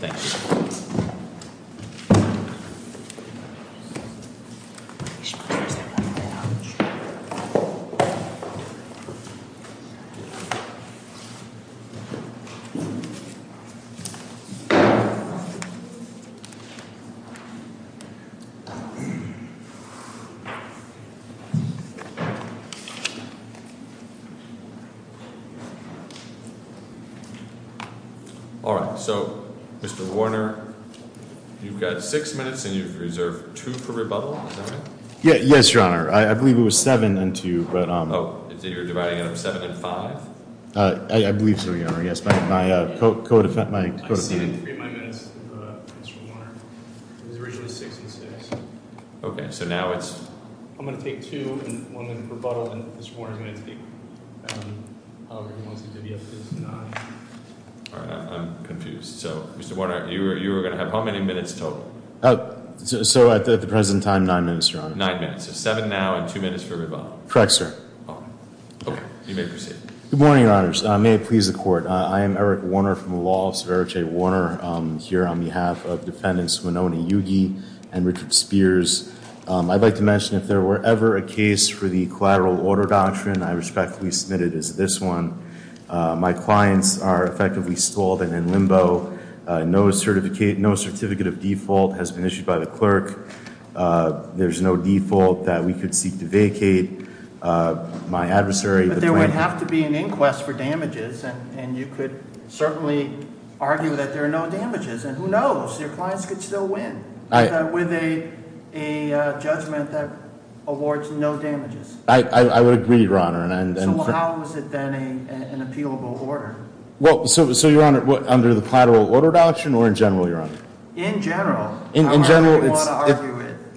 Thank you. Alright, so Mr. Warner, you've got 6 minutes and you've reserved 2 per rebuttal, is that right? Yes, your honor. I believe it was 7 and 2. Oh, so you're dividing it up 7 and 5? I believe so, your honor. Yes, my co-defendant. I said 3 in my minutes, Mr. Warner. It was originally 6 and 6. Okay, so now it's... I'm going to take 2 and 1 minute per rebuttal and Mr. Warner is going to take however he wants to divvy up his 9. Alright, I'm confused. So, Mr. Warner, you were going to have how many minutes total? So, at the present time, 9 minutes, your honor. 9 minutes. So, 7 now and 2 minutes per rebuttal. Correct, sir. Okay, you may proceed. Good morning, your honors. May it please the court. I am Eric Warner from the Law Office of Eric J. Warner here on behalf of defendants Winona Yugi and Richard Spears. I'd like to mention if there were ever a case for the collateral order doctrine, I respectfully submit it as this one. My clients are effectively stalled and in limbo. No certificate of default has been issued by the clerk. There's no default that we could seek to vacate. My adversary... But there would have to be an inquest for damages and you could certainly argue that there are no damages. And who knows? Your clients could still win with a judgment that awards no damages. I would agree, your honor. So how is it then an appealable order? So, your honor, under the collateral order doctrine or in general, your honor? In general. In general,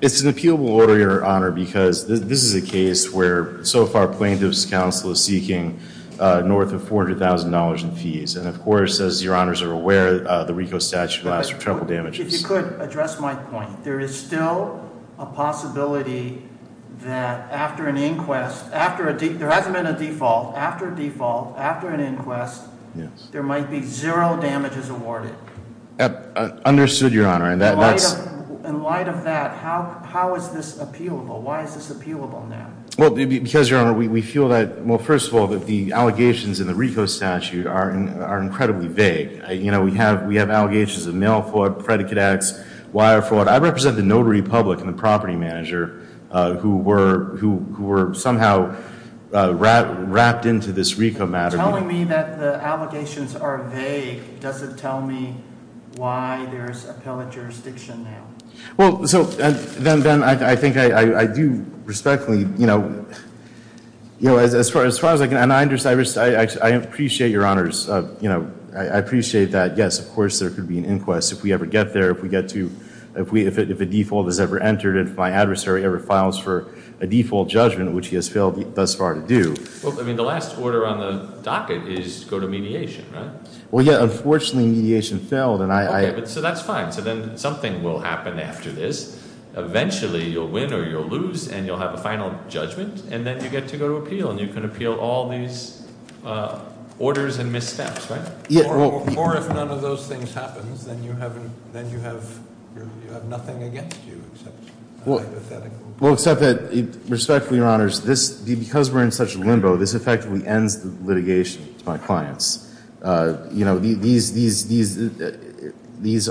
it's an appealable order, your honor, because this is a case where so far plaintiff's counsel is seeking north of $400,000 in fees. And of course, as your honors are aware, the RICO statute allows for triple damages. If you could address my point. There is still a possibility that after an inquest, there hasn't been a default. After a default, after an inquest, there might be zero damages awarded. Understood, your honor. In light of that, how is this appealable? Why is this appealable now? Well, because, your honor, we feel that, well, first of all, that the allegations in the RICO statute are incredibly vague. You know, we have allegations of mail fraud, predicate acts, wire fraud. I represent the notary public and the property manager who were somehow wrapped into this RICO matter. Telling me that the allegations are vague doesn't tell me why there is appellate jurisdiction now. Well, so then I think I do respectfully, you know, as far as I can, and I appreciate your honors. You know, I appreciate that. Yes, of course, there could be an inquest if we ever get there, if we get to, if a default is ever entered, if my adversary ever files for a default judgment, which he has failed thus far to do. Well, I mean, the last order on the docket is to go to mediation, right? Well, yeah, unfortunately, mediation failed. Okay, so that's fine. So then something will happen after this. Eventually, you'll win or you'll lose, and you'll have a final judgment, and then you get to go to appeal, and you can appeal all these orders and missteps, right? Or if none of those things happens, then you have nothing against you, except hypothetical. Well, except that, respectfully, your honors, because we're in such a limbo, this effectively ends the litigation to my clients. You know, these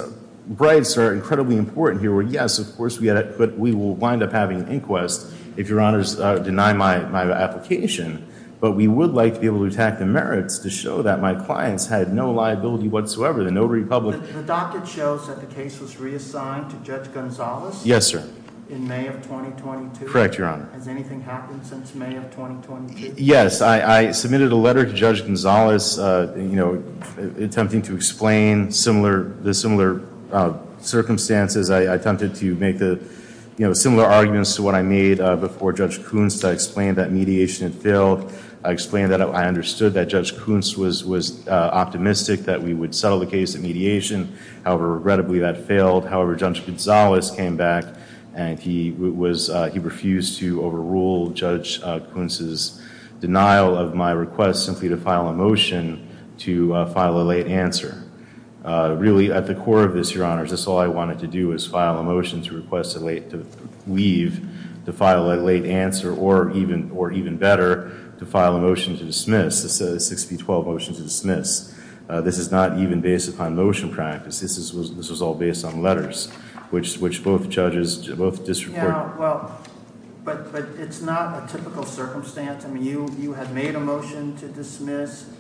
bribes are incredibly important here. Yes, of course, but we will wind up having an inquest if your honors deny my application, but we would like to be able to attack the merits to show that my clients had no liability whatsoever, the notary public. The docket shows that the case was reassigned to Judge Gonzales? Yes, sir. In May of 2022? Correct, your honor. Has anything happened since May of 2022? Yes, I submitted a letter to Judge Gonzales attempting to explain the similar circumstances. I attempted to make similar arguments to what I made before Judge Kuntz to explain that mediation had failed. I explained that I understood that Judge Kuntz was optimistic that we would settle the case at mediation. However, regrettably, that failed. However, Judge Gonzales came back and he refused to overrule Judge Kuntz's denial of my request simply to file a motion to file a late answer. Really, at the core of this, your honors, this is all I wanted to do was file a motion to request a late leave, to file a late answer, or even better, to file a motion to dismiss. This is a 6P12 motion to dismiss. This is not even based upon motion practice. This was all based on letters, which both judges both disreported. Yeah, well, but it's not a typical circumstance. I mean, you had made a motion to dismiss.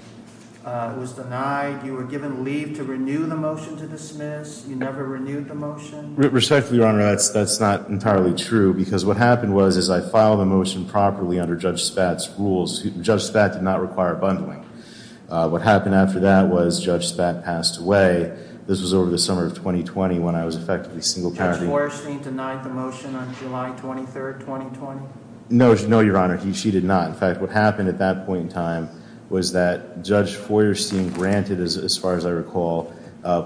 It was denied. You were given leave to renew the motion to dismiss. You never renewed the motion. Respectfully, your honor, that's not entirely true because what happened was as I filed the motion properly under Judge Spatz's rules, Judge Spatz did not require a bundling. What happened after that was Judge Spatz passed away. This was over the summer of 2020 when I was effectively single-parenting. Judge Feuerstein denied the motion on July 23, 2020? No, your honor. She did not. In fact, what happened at that point in time was that Judge Feuerstein granted, as far as I recall,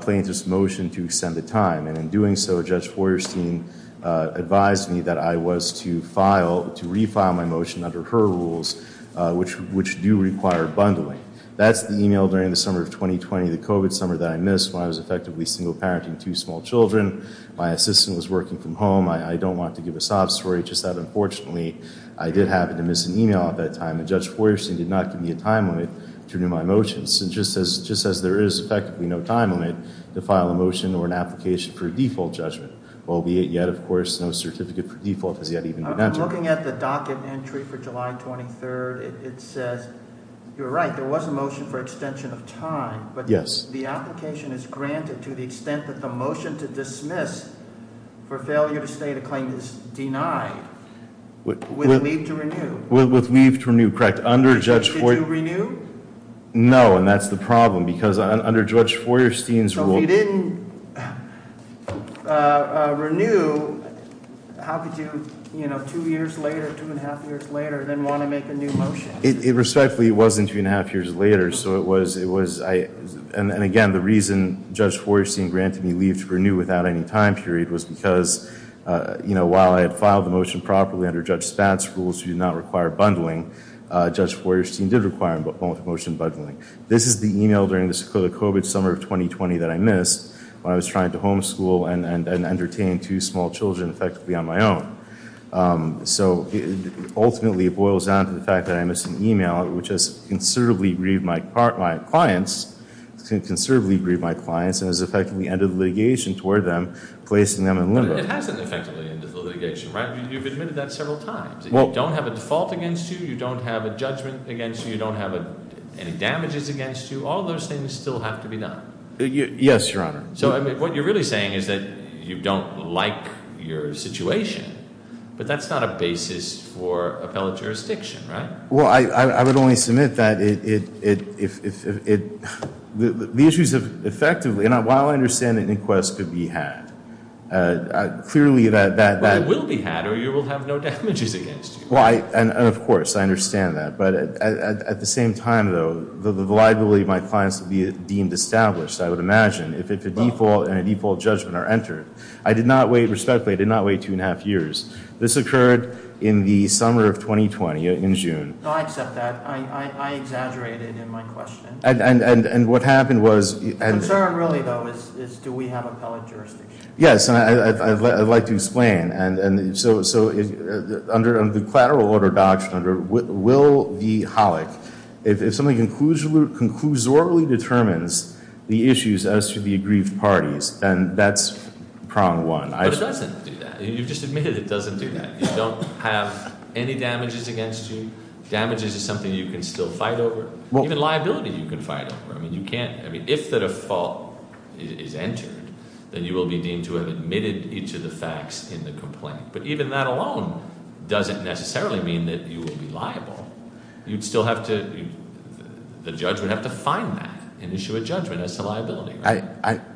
plaintiff's motion to extend the time. And in doing so, Judge Feuerstein advised me that I was to refile my motion under her rules, which do require bundling. That's the email during the summer of 2020, the COVID summer that I missed when I was effectively single-parenting two small children. My assistant was working from home. I don't want to give a sob story. Just that, unfortunately, I did happen to miss an email at that time. And Judge Feuerstein did not give me a time limit to renew my motion. So just as there is effectively no time limit to file a motion or an application for a default judgment, albeit yet, of course, no certificate for default has yet even been entered. I'm looking at the docket entry for July 23. It says, you're right, there was a motion for extension of time. But the application is granted to the extent that the motion to dismiss for failure to state a claim is denied with leave to renew. With leave to renew, correct. Did you renew? No, and that's the problem. Because under Judge Feuerstein's rule. So if you didn't renew, how could you, you know, two years later, two and a half years later, then want to make a new motion? It respectfully wasn't two and a half years later. And again, the reason Judge Feuerstein granted me leave to renew without any time period was because, you know, while I had filed the motion properly under Judge Spatz's rules to not require bundling, Judge Feuerstein did require a motion bundling. This is the e-mail during the COVID summer of 2020 that I missed when I was trying to homeschool and entertain two small children effectively on my own. So ultimately it boils down to the fact that I missed an e-mail, which has considerably grieved my clients, considerably grieved my clients and has effectively ended litigation toward them, placing them in limbo. It hasn't effectively ended the litigation, right? You've admitted that several times. You don't have a default against you. You don't have a judgment against you. You don't have any damages against you. All those things still have to be done. Yes, Your Honor. So what you're really saying is that you don't like your situation, but that's not a basis for appellate jurisdiction, right? Well, I would only submit that the issues have effectively, and while I understand an inquest could be had, clearly that that Well, it will be had or you will have no damages against you. Well, and of course, I understand that. But at the same time, though, the liability of my clients would be deemed established, I would imagine, if a default and a default judgment are entered. I did not wait, respectfully, I did not wait two and a half years. This occurred in the summer of 2020, in June. No, I accept that. I exaggerated in my question. And what happened was The concern really, though, is do we have appellate jurisdiction? Yes, and I'd like to explain. So under the collateral order doctrine, under Will v. Hollick, if something conclusively determines the issues as to the aggrieved parties, then that's prong one. But it doesn't do that. You've just admitted it doesn't do that. You don't have any damages against you. Damages is something you can still fight over. Even liability you can fight over. If the default is entered, then you will be deemed to have admitted each of the facts in the complaint. But even that alone doesn't necessarily mean that you will be liable. You'd still have to, the judge would have to find that and issue a judgment as to liability.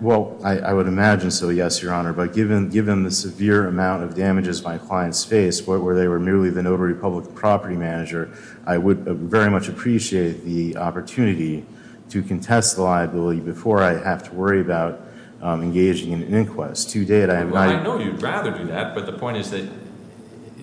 Well, I would imagine so, yes, Your Honor. But given the severe amount of damages my clients faced, where they were merely the notary public property manager, I would very much appreciate the opportunity to contest the liability before I have to worry about engaging in an inquest. Well, I know you'd rather do that, but the point is that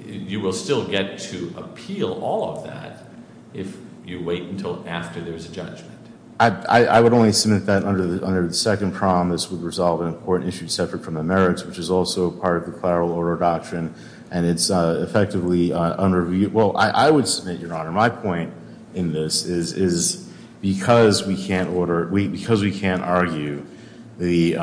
you will still get to appeal all of that if you wait until after there's a judgment. I would only submit that under the second promise would resolve an important issue separate from the merits, which is also part of the clarily order doctrine, and it's effectively under review. Well, I would submit, Your Honor, my point in this is because we can't argue the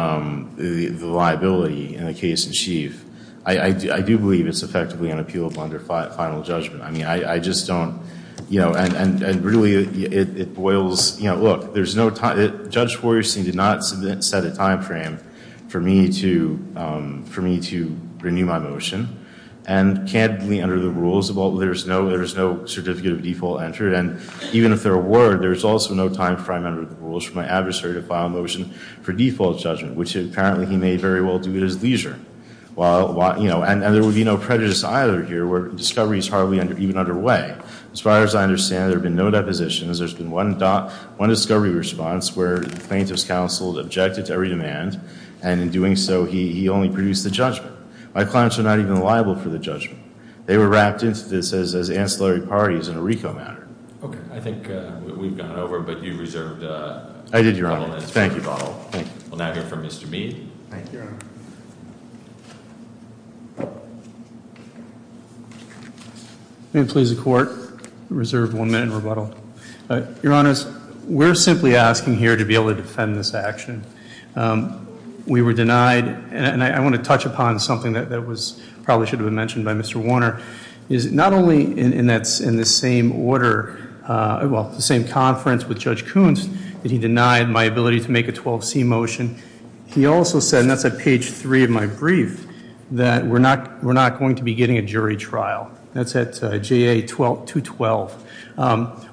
liability in a case in chief, I do believe it's effectively unappealable under final judgment. I mean, I just don't, you know, and really it boils, you know, look, there's no time, Judge Woyerson did not set a time frame for me to renew my motion, and candidly under the rules there's no certificate of default entered, and even if there were, there's also no time frame under the rules for my adversary to file a motion for default judgment, which apparently he may very well do at his leisure. Well, you know, and there would be no prejudice either here where discovery is hardly even underway. As far as I understand, there have been no depositions. There's been one discovery response where the plaintiff's counsel objected to every demand, and in doing so he only produced the judgment. My clients are not even liable for the judgment. They were wrapped into this as ancillary parties in a RICO manner. Okay. I think we've gone over, but you reserved a bottle. I did, Your Honor. Thank you, bottle. We'll now hear from Mr. Mead. Thank you, Your Honor. May it please the Court? Reserve one minute in rebuttal. Your Honors, we're simply asking here to be able to defend this action. We were denied, and I want to touch upon something that probably should have been mentioned by Mr. Warner, is not only in the same order, well, the same conference with Judge Koontz that he denied my ability to make a 12C motion, he also said, and that's at page three of my brief, that we're not going to be getting a jury trial. That's at JA 212.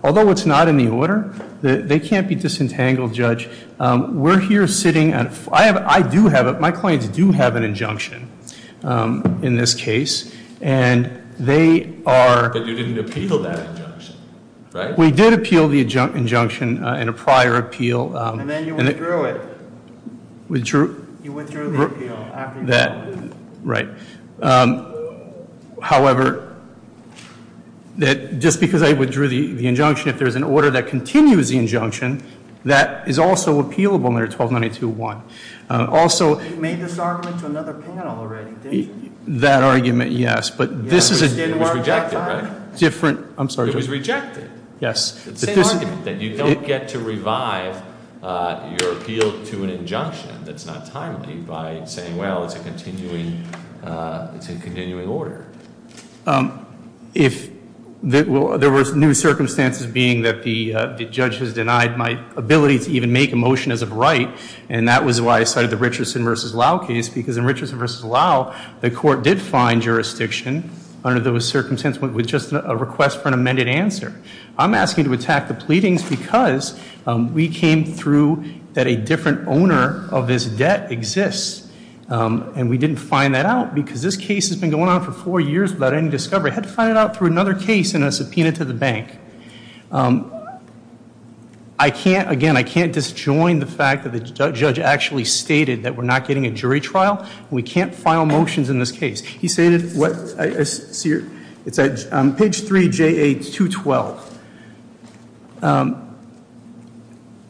Although it's not in the order, they can't be disentangled, Judge. We're here sitting, I do have, my clients do have an injunction in this case, and they are. But you didn't appeal that injunction, right? We did appeal the injunction in a prior appeal. And then you withdrew it. Withdrew? You withdrew the appeal. That, right. However, just because I withdrew the injunction, if there's an order that continues the injunction, that is also appealable under 1292.1. Also- You made this argument to another panel already, didn't you? That argument, yes. But this is a- It was rejected, right? Different, I'm sorry, Judge. It was rejected. Yes. It's the same argument, that you don't get to revive your appeal to an injunction that's not timely by saying, well, it's a continuing order. If there were new circumstances being that the judge has denied my ability to even make a motion as of right, and that was why I cited the Richardson v. Lowe case, because in Richardson v. Lowe, the court did find jurisdiction under those circumstances with just a request for an amended answer. I'm asking you to attack the pleadings because we came through that a different owner of this debt exists, and we didn't find that out because this case has been going on for four years without any discovery. I had to find it out through another case in a subpoena to the bank. I can't, again, I can't disjoin the fact that the judge actually stated that we're not getting a jury trial, and we can't file motions in this case. He stated what I see here. It's on page 3JA212.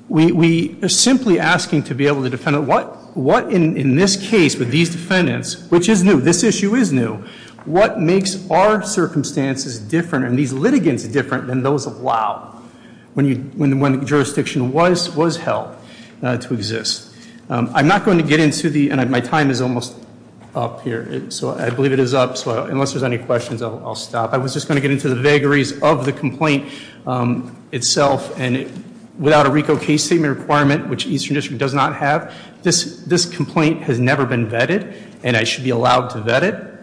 We are simply asking to be able to defend it. What in this case with these defendants, which is new, this issue is new, what makes our circumstances different and these litigants different than those of Lowe when the jurisdiction was held to exist? I'm not going to get into the, and my time is almost up here. So I believe it is up. So unless there's any questions, I'll stop. I was just going to get into the vagaries of the complaint itself, and without a RICO case statement requirement, which Eastern District does not have, this complaint has never been vetted, and I should be allowed to vet it.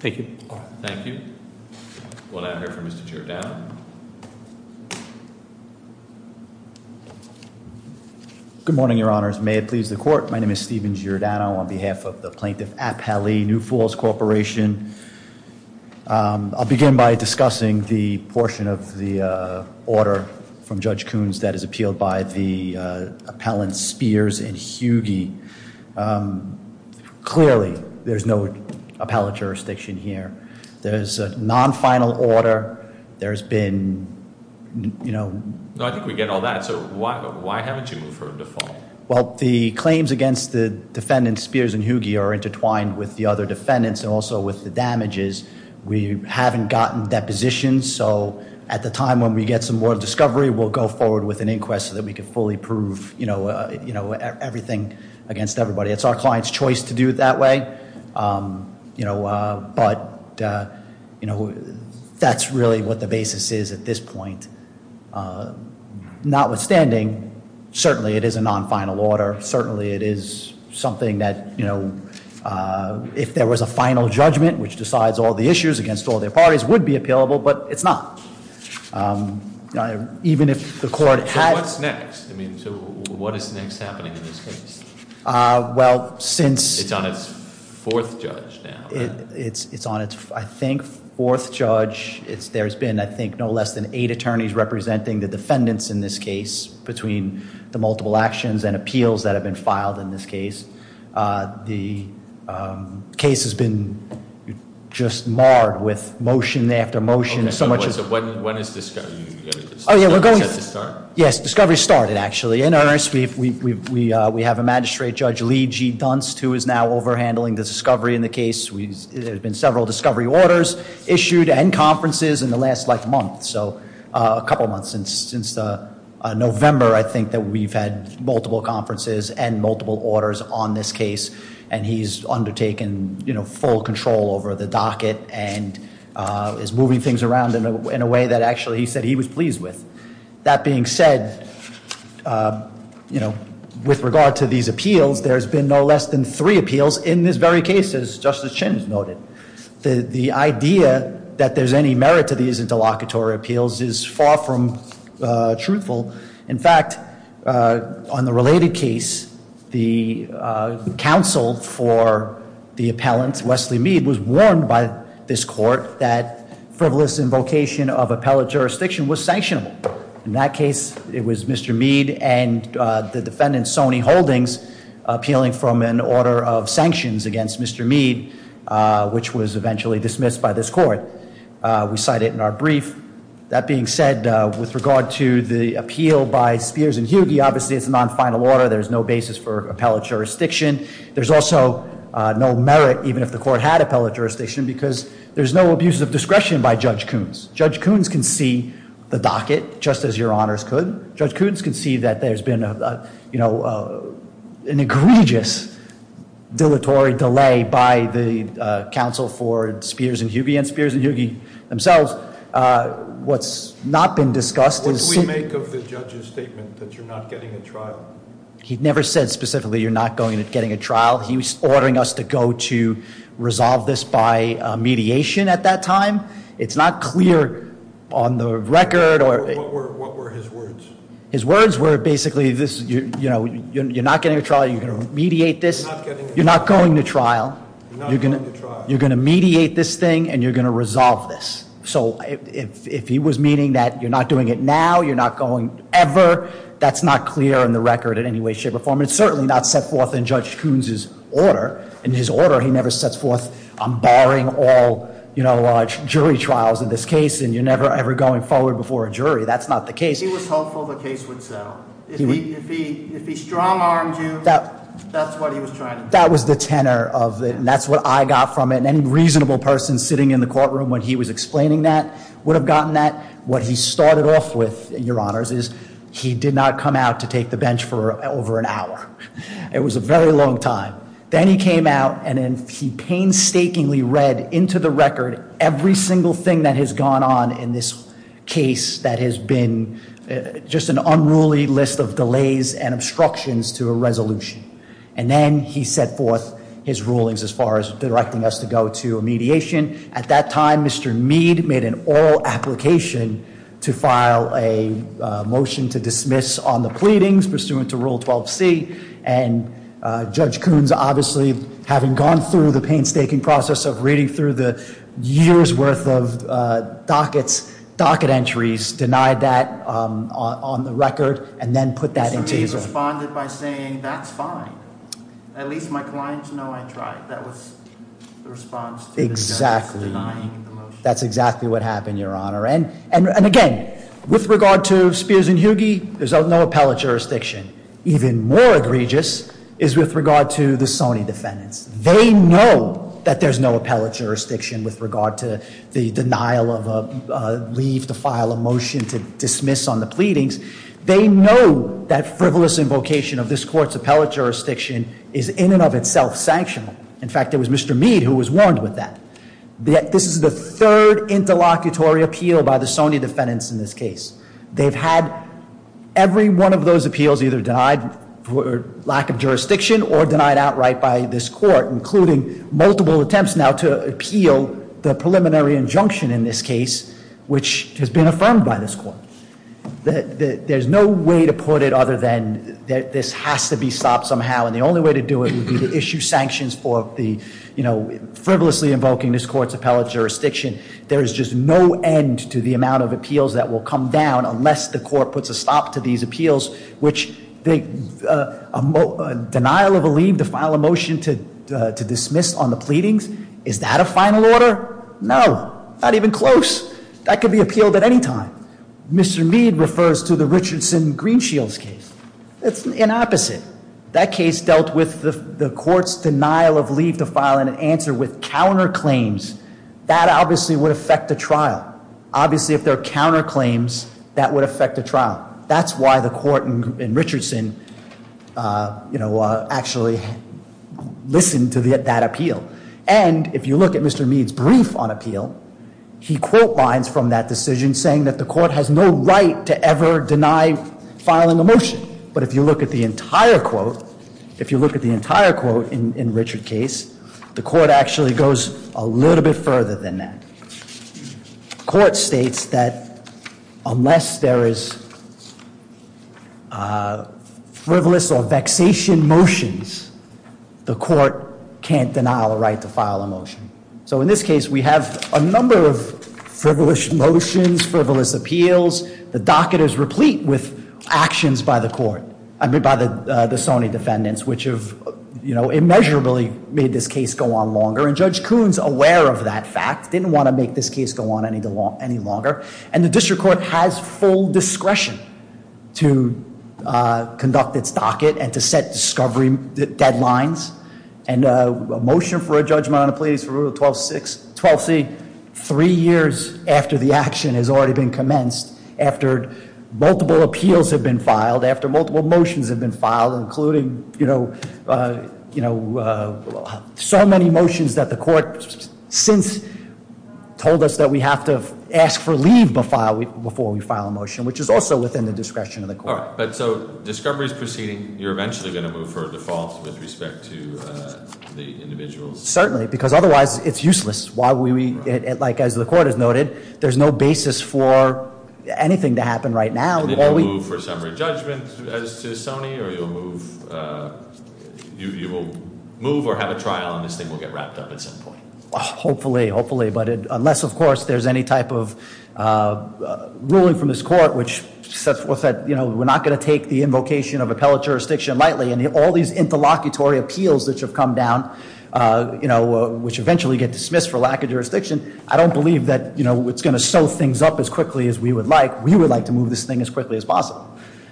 Thank you. All right. Thank you. We'll now hear from Mr. Giordano. Good morning, Your Honors. May it please the Court. My name is Steven Giordano on behalf of the Plaintiff Appellee, New Falls Corporation. I'll begin by discussing the portion of the order from Judge Coons that is appealed by the appellant Spears and Hughey. Clearly, there's no appellate jurisdiction here. There's a non-final order. There's been, you know- No, I think we get all that. So why haven't you moved for a default? Well, the claims against the defendants Spears and Hughey are intertwined with the other defendants and also with the damages. We haven't gotten depositions, so at the time when we get some more discovery, we'll go forward with an inquest so that we can fully prove everything against everybody. It's our client's choice to do it that way, but that's really what the basis is at this point. Notwithstanding, certainly it is a non-final order. Certainly it is something that if there was a final judgment, which decides all the issues against all their parties, would be appealable, but it's not. Even if the court had- So what's next? I mean, so what is next happening in this case? Well, since- It's on its fourth judge now, right? It's on its, I think, fourth judge. There's been, I think, no less than eight attorneys representing the defendants in this case between the multiple actions and appeals that have been filed in this case. So when is discovery going to start? Yes, discovery started, actually. In earnest, we have a magistrate, Judge Lee G. Dunst, who is now overhandling the discovery in the case. There have been several discovery orders issued and conferences in the last month, so a couple months. Since November, I think, that we've had multiple conferences and multiple orders on this case, and he's undertaken full control over the docket and is moving things around in a way that actually he said he was pleased with. That being said, with regard to these appeals, there's been no less than three appeals in this very case, as Justice Chin has noted. The idea that there's any merit to these interlocutory appeals is far from truthful. In fact, on the related case, the counsel for the appellant, Wesley Meade, was warned by this court that frivolous invocation of appellate jurisdiction was sanctionable. In that case, it was Mr. Meade and the defendant, Sonny Holdings, appealing from an order of sanctions against Mr. Meade, which was eventually dismissed by this court. We cite it in our brief. That being said, with regard to the appeal by Spears and Hughey, obviously it's a non-final order. There's no basis for appellate jurisdiction. There's also no merit, even if the court had appellate jurisdiction, because there's no abuse of discretion by Judge Coons. Judge Coons can see the docket, just as your honors could. Judge Coons can see that there's been an egregious dilatory delay by the counsel for Spears and Hughey, and Spears and Hughey themselves. What's not been discussed is- What do we make of the judge's statement that you're not getting a trial? He never said specifically you're not getting a trial. He was ordering us to go to resolve this by mediation at that time. It's not clear on the record or- What were his words? His words were basically, you're not getting a trial, you're going to mediate this. You're not getting a trial. You're not going to trial. You're not going to trial. You're going to mediate this thing, and you're going to resolve this. So if he was meaning that you're not doing it now, you're not going ever, that's not clear on the record in any way, shape, or form. It's certainly not set forth in Judge Coons' order. In his order, he never sets forth, I'm barring all jury trials in this case, and you're never, ever going forward before a jury. That's not the case. He was hopeful the case would settle. If he strong-armed you, that's what he was trying to do. That was the tenor of it, and that's what I got from it, and any reasonable person sitting in the courtroom when he was explaining that would have gotten that. What he started off with, your honors, is he did not come out to take the bench for over an hour. It was a very long time. Then he came out, and then he painstakingly read into the record every single thing that has gone on in this case that has been just an unruly list of delays and obstructions to a resolution. And then he set forth his rulings as far as directing us to go to a mediation. At that time, Mr. Meade made an oral application to file a motion to dismiss on the pleadings pursuant to Rule 12C. And Judge Coons, obviously, having gone through the painstaking process of reading through the year's worth of dockets, docket entries, denied that on the record, and then put that into his- He responded by saying, that's fine. At least my clients know I tried. That was the response to the judge denying the motion. Exactly. That's exactly what happened, your honor. And again, with regard to Spears and Hughey, there's no appellate jurisdiction. Even more egregious is with regard to the Sony defendants. They know that there's no appellate jurisdiction with regard to the denial of a leave to file a motion to dismiss on the pleadings. They know that frivolous invocation of this court's appellate jurisdiction is in and of itself sanctional. In fact, it was Mr. Meade who was warned with that. This is the third interlocutory appeal by the Sony defendants in this case. They've had every one of those appeals either denied for lack of jurisdiction or denied outright by this court, including multiple attempts now to appeal the preliminary injunction in this case, which has been affirmed by this court. There's no way to put it other than that this has to be stopped somehow. And the only way to do it would be to issue sanctions for the frivolously invoking this court's appellate jurisdiction. There is just no end to the amount of appeals that will come down unless the court puts a stop to these appeals, which the denial of a leave to file a motion to dismiss on the pleadings. Is that a final order? No, not even close. That could be appealed at any time. Mr. Meade refers to the Richardson-Greenshields case. It's an opposite. That case dealt with the court's denial of leave to file an answer with counterclaims. That obviously would affect the trial. Obviously, if there are counterclaims, that would affect the trial. That's why the court in Richardson actually listened to that appeal. And if you look at Mr. Meade's brief on appeal, he quote lines from that decision saying that the court has no right to ever deny filing a motion. But if you look at the entire quote, if you look at the entire quote in Richard's case, the court actually goes a little bit further than that. The court states that unless there is frivolous or vexation motions, the court can't denial a right to file a motion. So in this case, we have a number of frivolous motions, frivolous appeals. The docket is replete with actions by the court, I mean by the Sony defendants, which have immeasurably made this case go on longer. And Judge Kuhn's aware of that fact, didn't want to make this case go on any longer. And the district court has full discretion to conduct its docket and to set discovery deadlines. And a motion for a judgment on a plea is for rule 12c. Three years after the action has already been commenced, after multiple appeals have been filed, after multiple motions have been filed, including so many motions that the court since told us that we have to ask for leave before we file a motion, which is also within the discretion of the court. All right, but so discovery is proceeding. You're eventually going to move for a default with respect to the individuals. Certainly, because otherwise it's useless. Why would we, like as the court has noted, there's no basis for anything to happen right now. And then you'll move for summary judgment as to Sony, or you'll move. You will move or have a trial, and this thing will get wrapped up at some point. Hopefully, hopefully, but unless of course there's any type of ruling from this court, which says we're not going to take the invocation of appellate jurisdiction lightly. And all these interlocutory appeals that have come down, which eventually get dismissed for lack of jurisdiction. I don't believe that it's going to sew things up as quickly as we would like. We would like to move this thing as quickly as possible.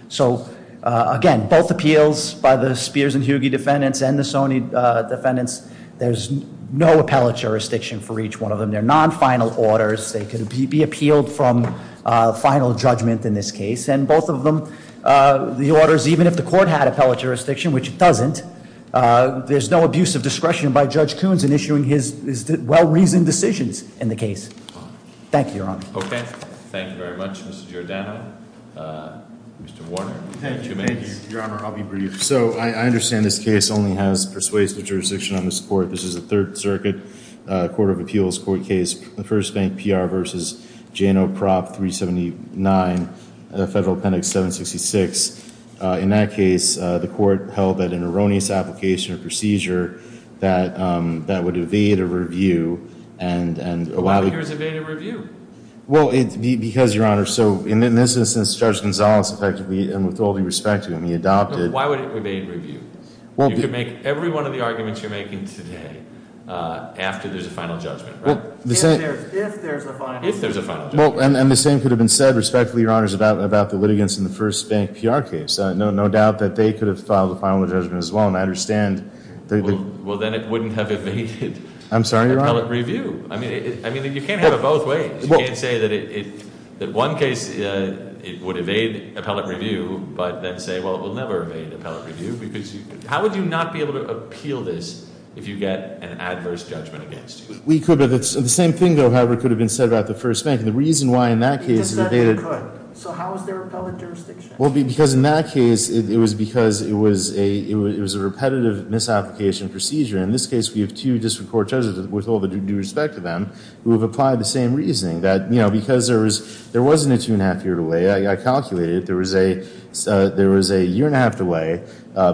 So again, both appeals by the Spears and Hughey defendants and the Sony defendants. There's no appellate jurisdiction for each one of them. They're non-final orders. They can be appealed from final judgment in this case. And both of them, the orders, even if the court had appellate jurisdiction, which it doesn't, there's no abuse of discretion by Judge Coons in issuing his well-reasoned decisions in the case. Thank you, Your Honor. Okay. Thank you very much, Mr. Giordano. Mr. Warner, you have two minutes. Your Honor, I'll be brief. So I understand this case only has persuasive jurisdiction on this court. This is a Third Circuit Court of Appeals court case, the First Bank PR versus Jano Prop 379, Federal Appendix 766. In that case, the court held that an erroneous application or procedure that would evade a review and allow the- Why would yours evade a review? Well, it's because, Your Honor, so in this instance, Judge Gonzales effectively, and with all due respect to him, he adopted- Why would it evade review? You could make every one of the arguments you're making today after there's a final judgment, right? If there's a final- If there's a final judgment. Well, and the same could have been said, respectfully, Your Honors, about the litigants in the First Bank PR case. No doubt that they could have filed a final judgment as well, and I understand that- Well, then it wouldn't have evaded- I'm sorry, Your Honor. Appellate review. I mean, you can't have it both ways. You can't say that one case, it would evade appellate review, but then say, well, it will never evade appellate review. Because how would you not be able to appeal this if you get an adverse judgment against you? We could, but it's the same thing, though, however, could have been said about the First Bank. And the reason why, in that case, it evaded- It just said it could. So how is there a public jurisdiction? Well, because in that case, it was because it was a repetitive misapplication procedure. In this case, we have two district court judges, with all due respect to them, who have applied the same reasoning. That, you know, because there wasn't a two and a half year delay, I calculated, there was a year and a half delay.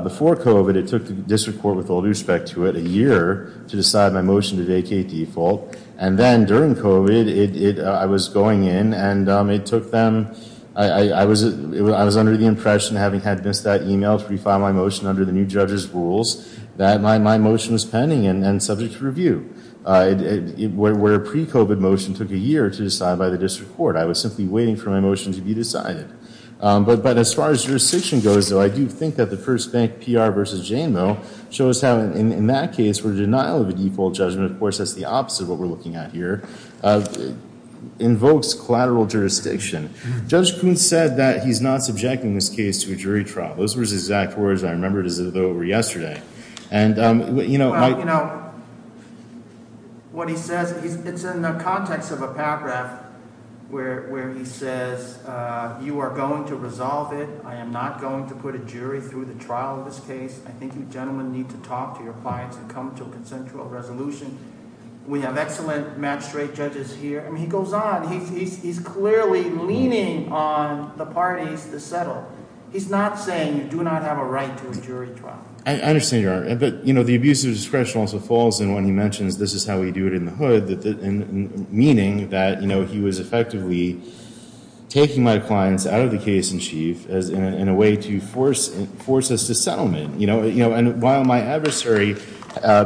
Before COVID, it took the district court, with all due respect to it, a year to decide my motion to vacate default. And then, during COVID, I was going in, and it took them- I was under the impression, having had missed that email to refile my motion under the new judge's rules, that my motion was pending and subject to review. Where a pre-COVID motion took a year to decide by the district court, I was simply waiting for my motion to be decided. But as far as jurisdiction goes, though, I do think that the First Bank PR versus JMO shows how, in that case, for the denial of a default judgment, of course, that's the opposite of what we're looking at here, invokes collateral jurisdiction. Judge Kuhn said that he's not subjecting this case to a jury trial. Those were his exact words, and I remember it as though it were yesterday. And, you know- Well, you know, what he says, it's in the context of a paragraph where he says, you are going to resolve it. I am not going to put a jury through the trial of this case. I think you gentlemen need to talk to your clients and come to a consensual resolution. We have excellent magistrate judges here. I mean, he goes on. He's clearly leaning on the parties to settle. He's not saying you do not have a right to a jury trial. I understand your argument, but, you know, the abuse of discretion also falls in when he mentions this is how we do it in the hood, meaning that, you know, he was effectively taking my clients out of the case in chief in a way to force us to settlement. You know, and while my adversary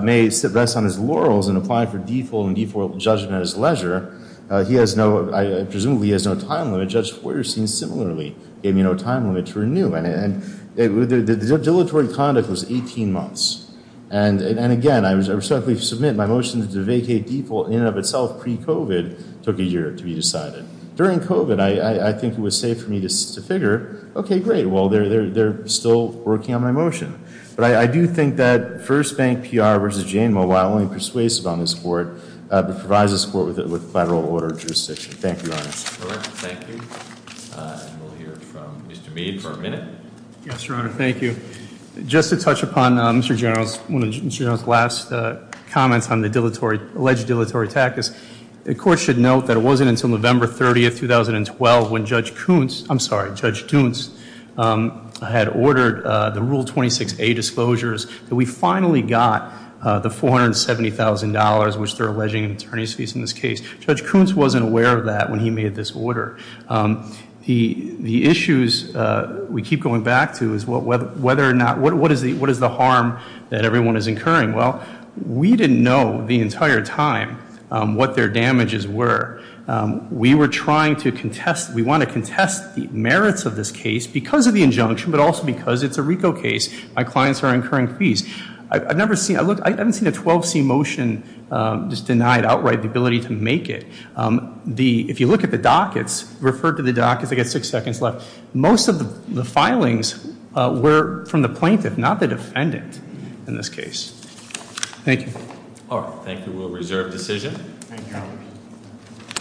may sit best on his laurels and apply for default and default judgment at his leisure, he has no- I presume he has no time limit. Judge Feuerstein similarly gave me no time limit to renew. And the dilatory conduct was 18 months. And again, I respectfully submit my motion to vacate default in and of itself pre-COVID took a year to be decided. During COVID, I think it was safe for me to figure, OK, great. Well, they're still working on my motion. But I do think that First Bank PR versus Jane Mobile, while only persuasive on this court, provides us support with federal order jurisdiction. Thank you, Your Honor. Mr. Burke, thank you. And we'll hear from Mr. Mead for a minute. Yes, Your Honor. Thank you. Just to touch upon Mr. General's- one of Mr. General's last comments on the dilatory- alleged dilatory tactics. The court should note that it wasn't until November 30th, 2012, when Judge Kuntz- I'm sorry, Judge Duntz had ordered the Rule 26A disclosures that we finally got the $470,000, which they're alleging in attorney's fees in this case. Judge Kuntz wasn't aware of that when he made this order. The issues we keep going back to is whether or not- what is the harm that everyone is incurring? Well, we didn't know the entire time what their damages were. We were trying to contest- we want to contest the merits of this case because of the injunction, but also because it's a RICO case. My clients are incurring fees. I've never seen- I haven't seen a 12C motion just denied outright the ability to make it. The- if you look at the dockets- refer to the dockets, I've got six seconds left. Most of the filings were from the plaintiff, not the defendant in this case. Thank you. All right, thank you. We'll reserve decision. Thank you, Your Honor.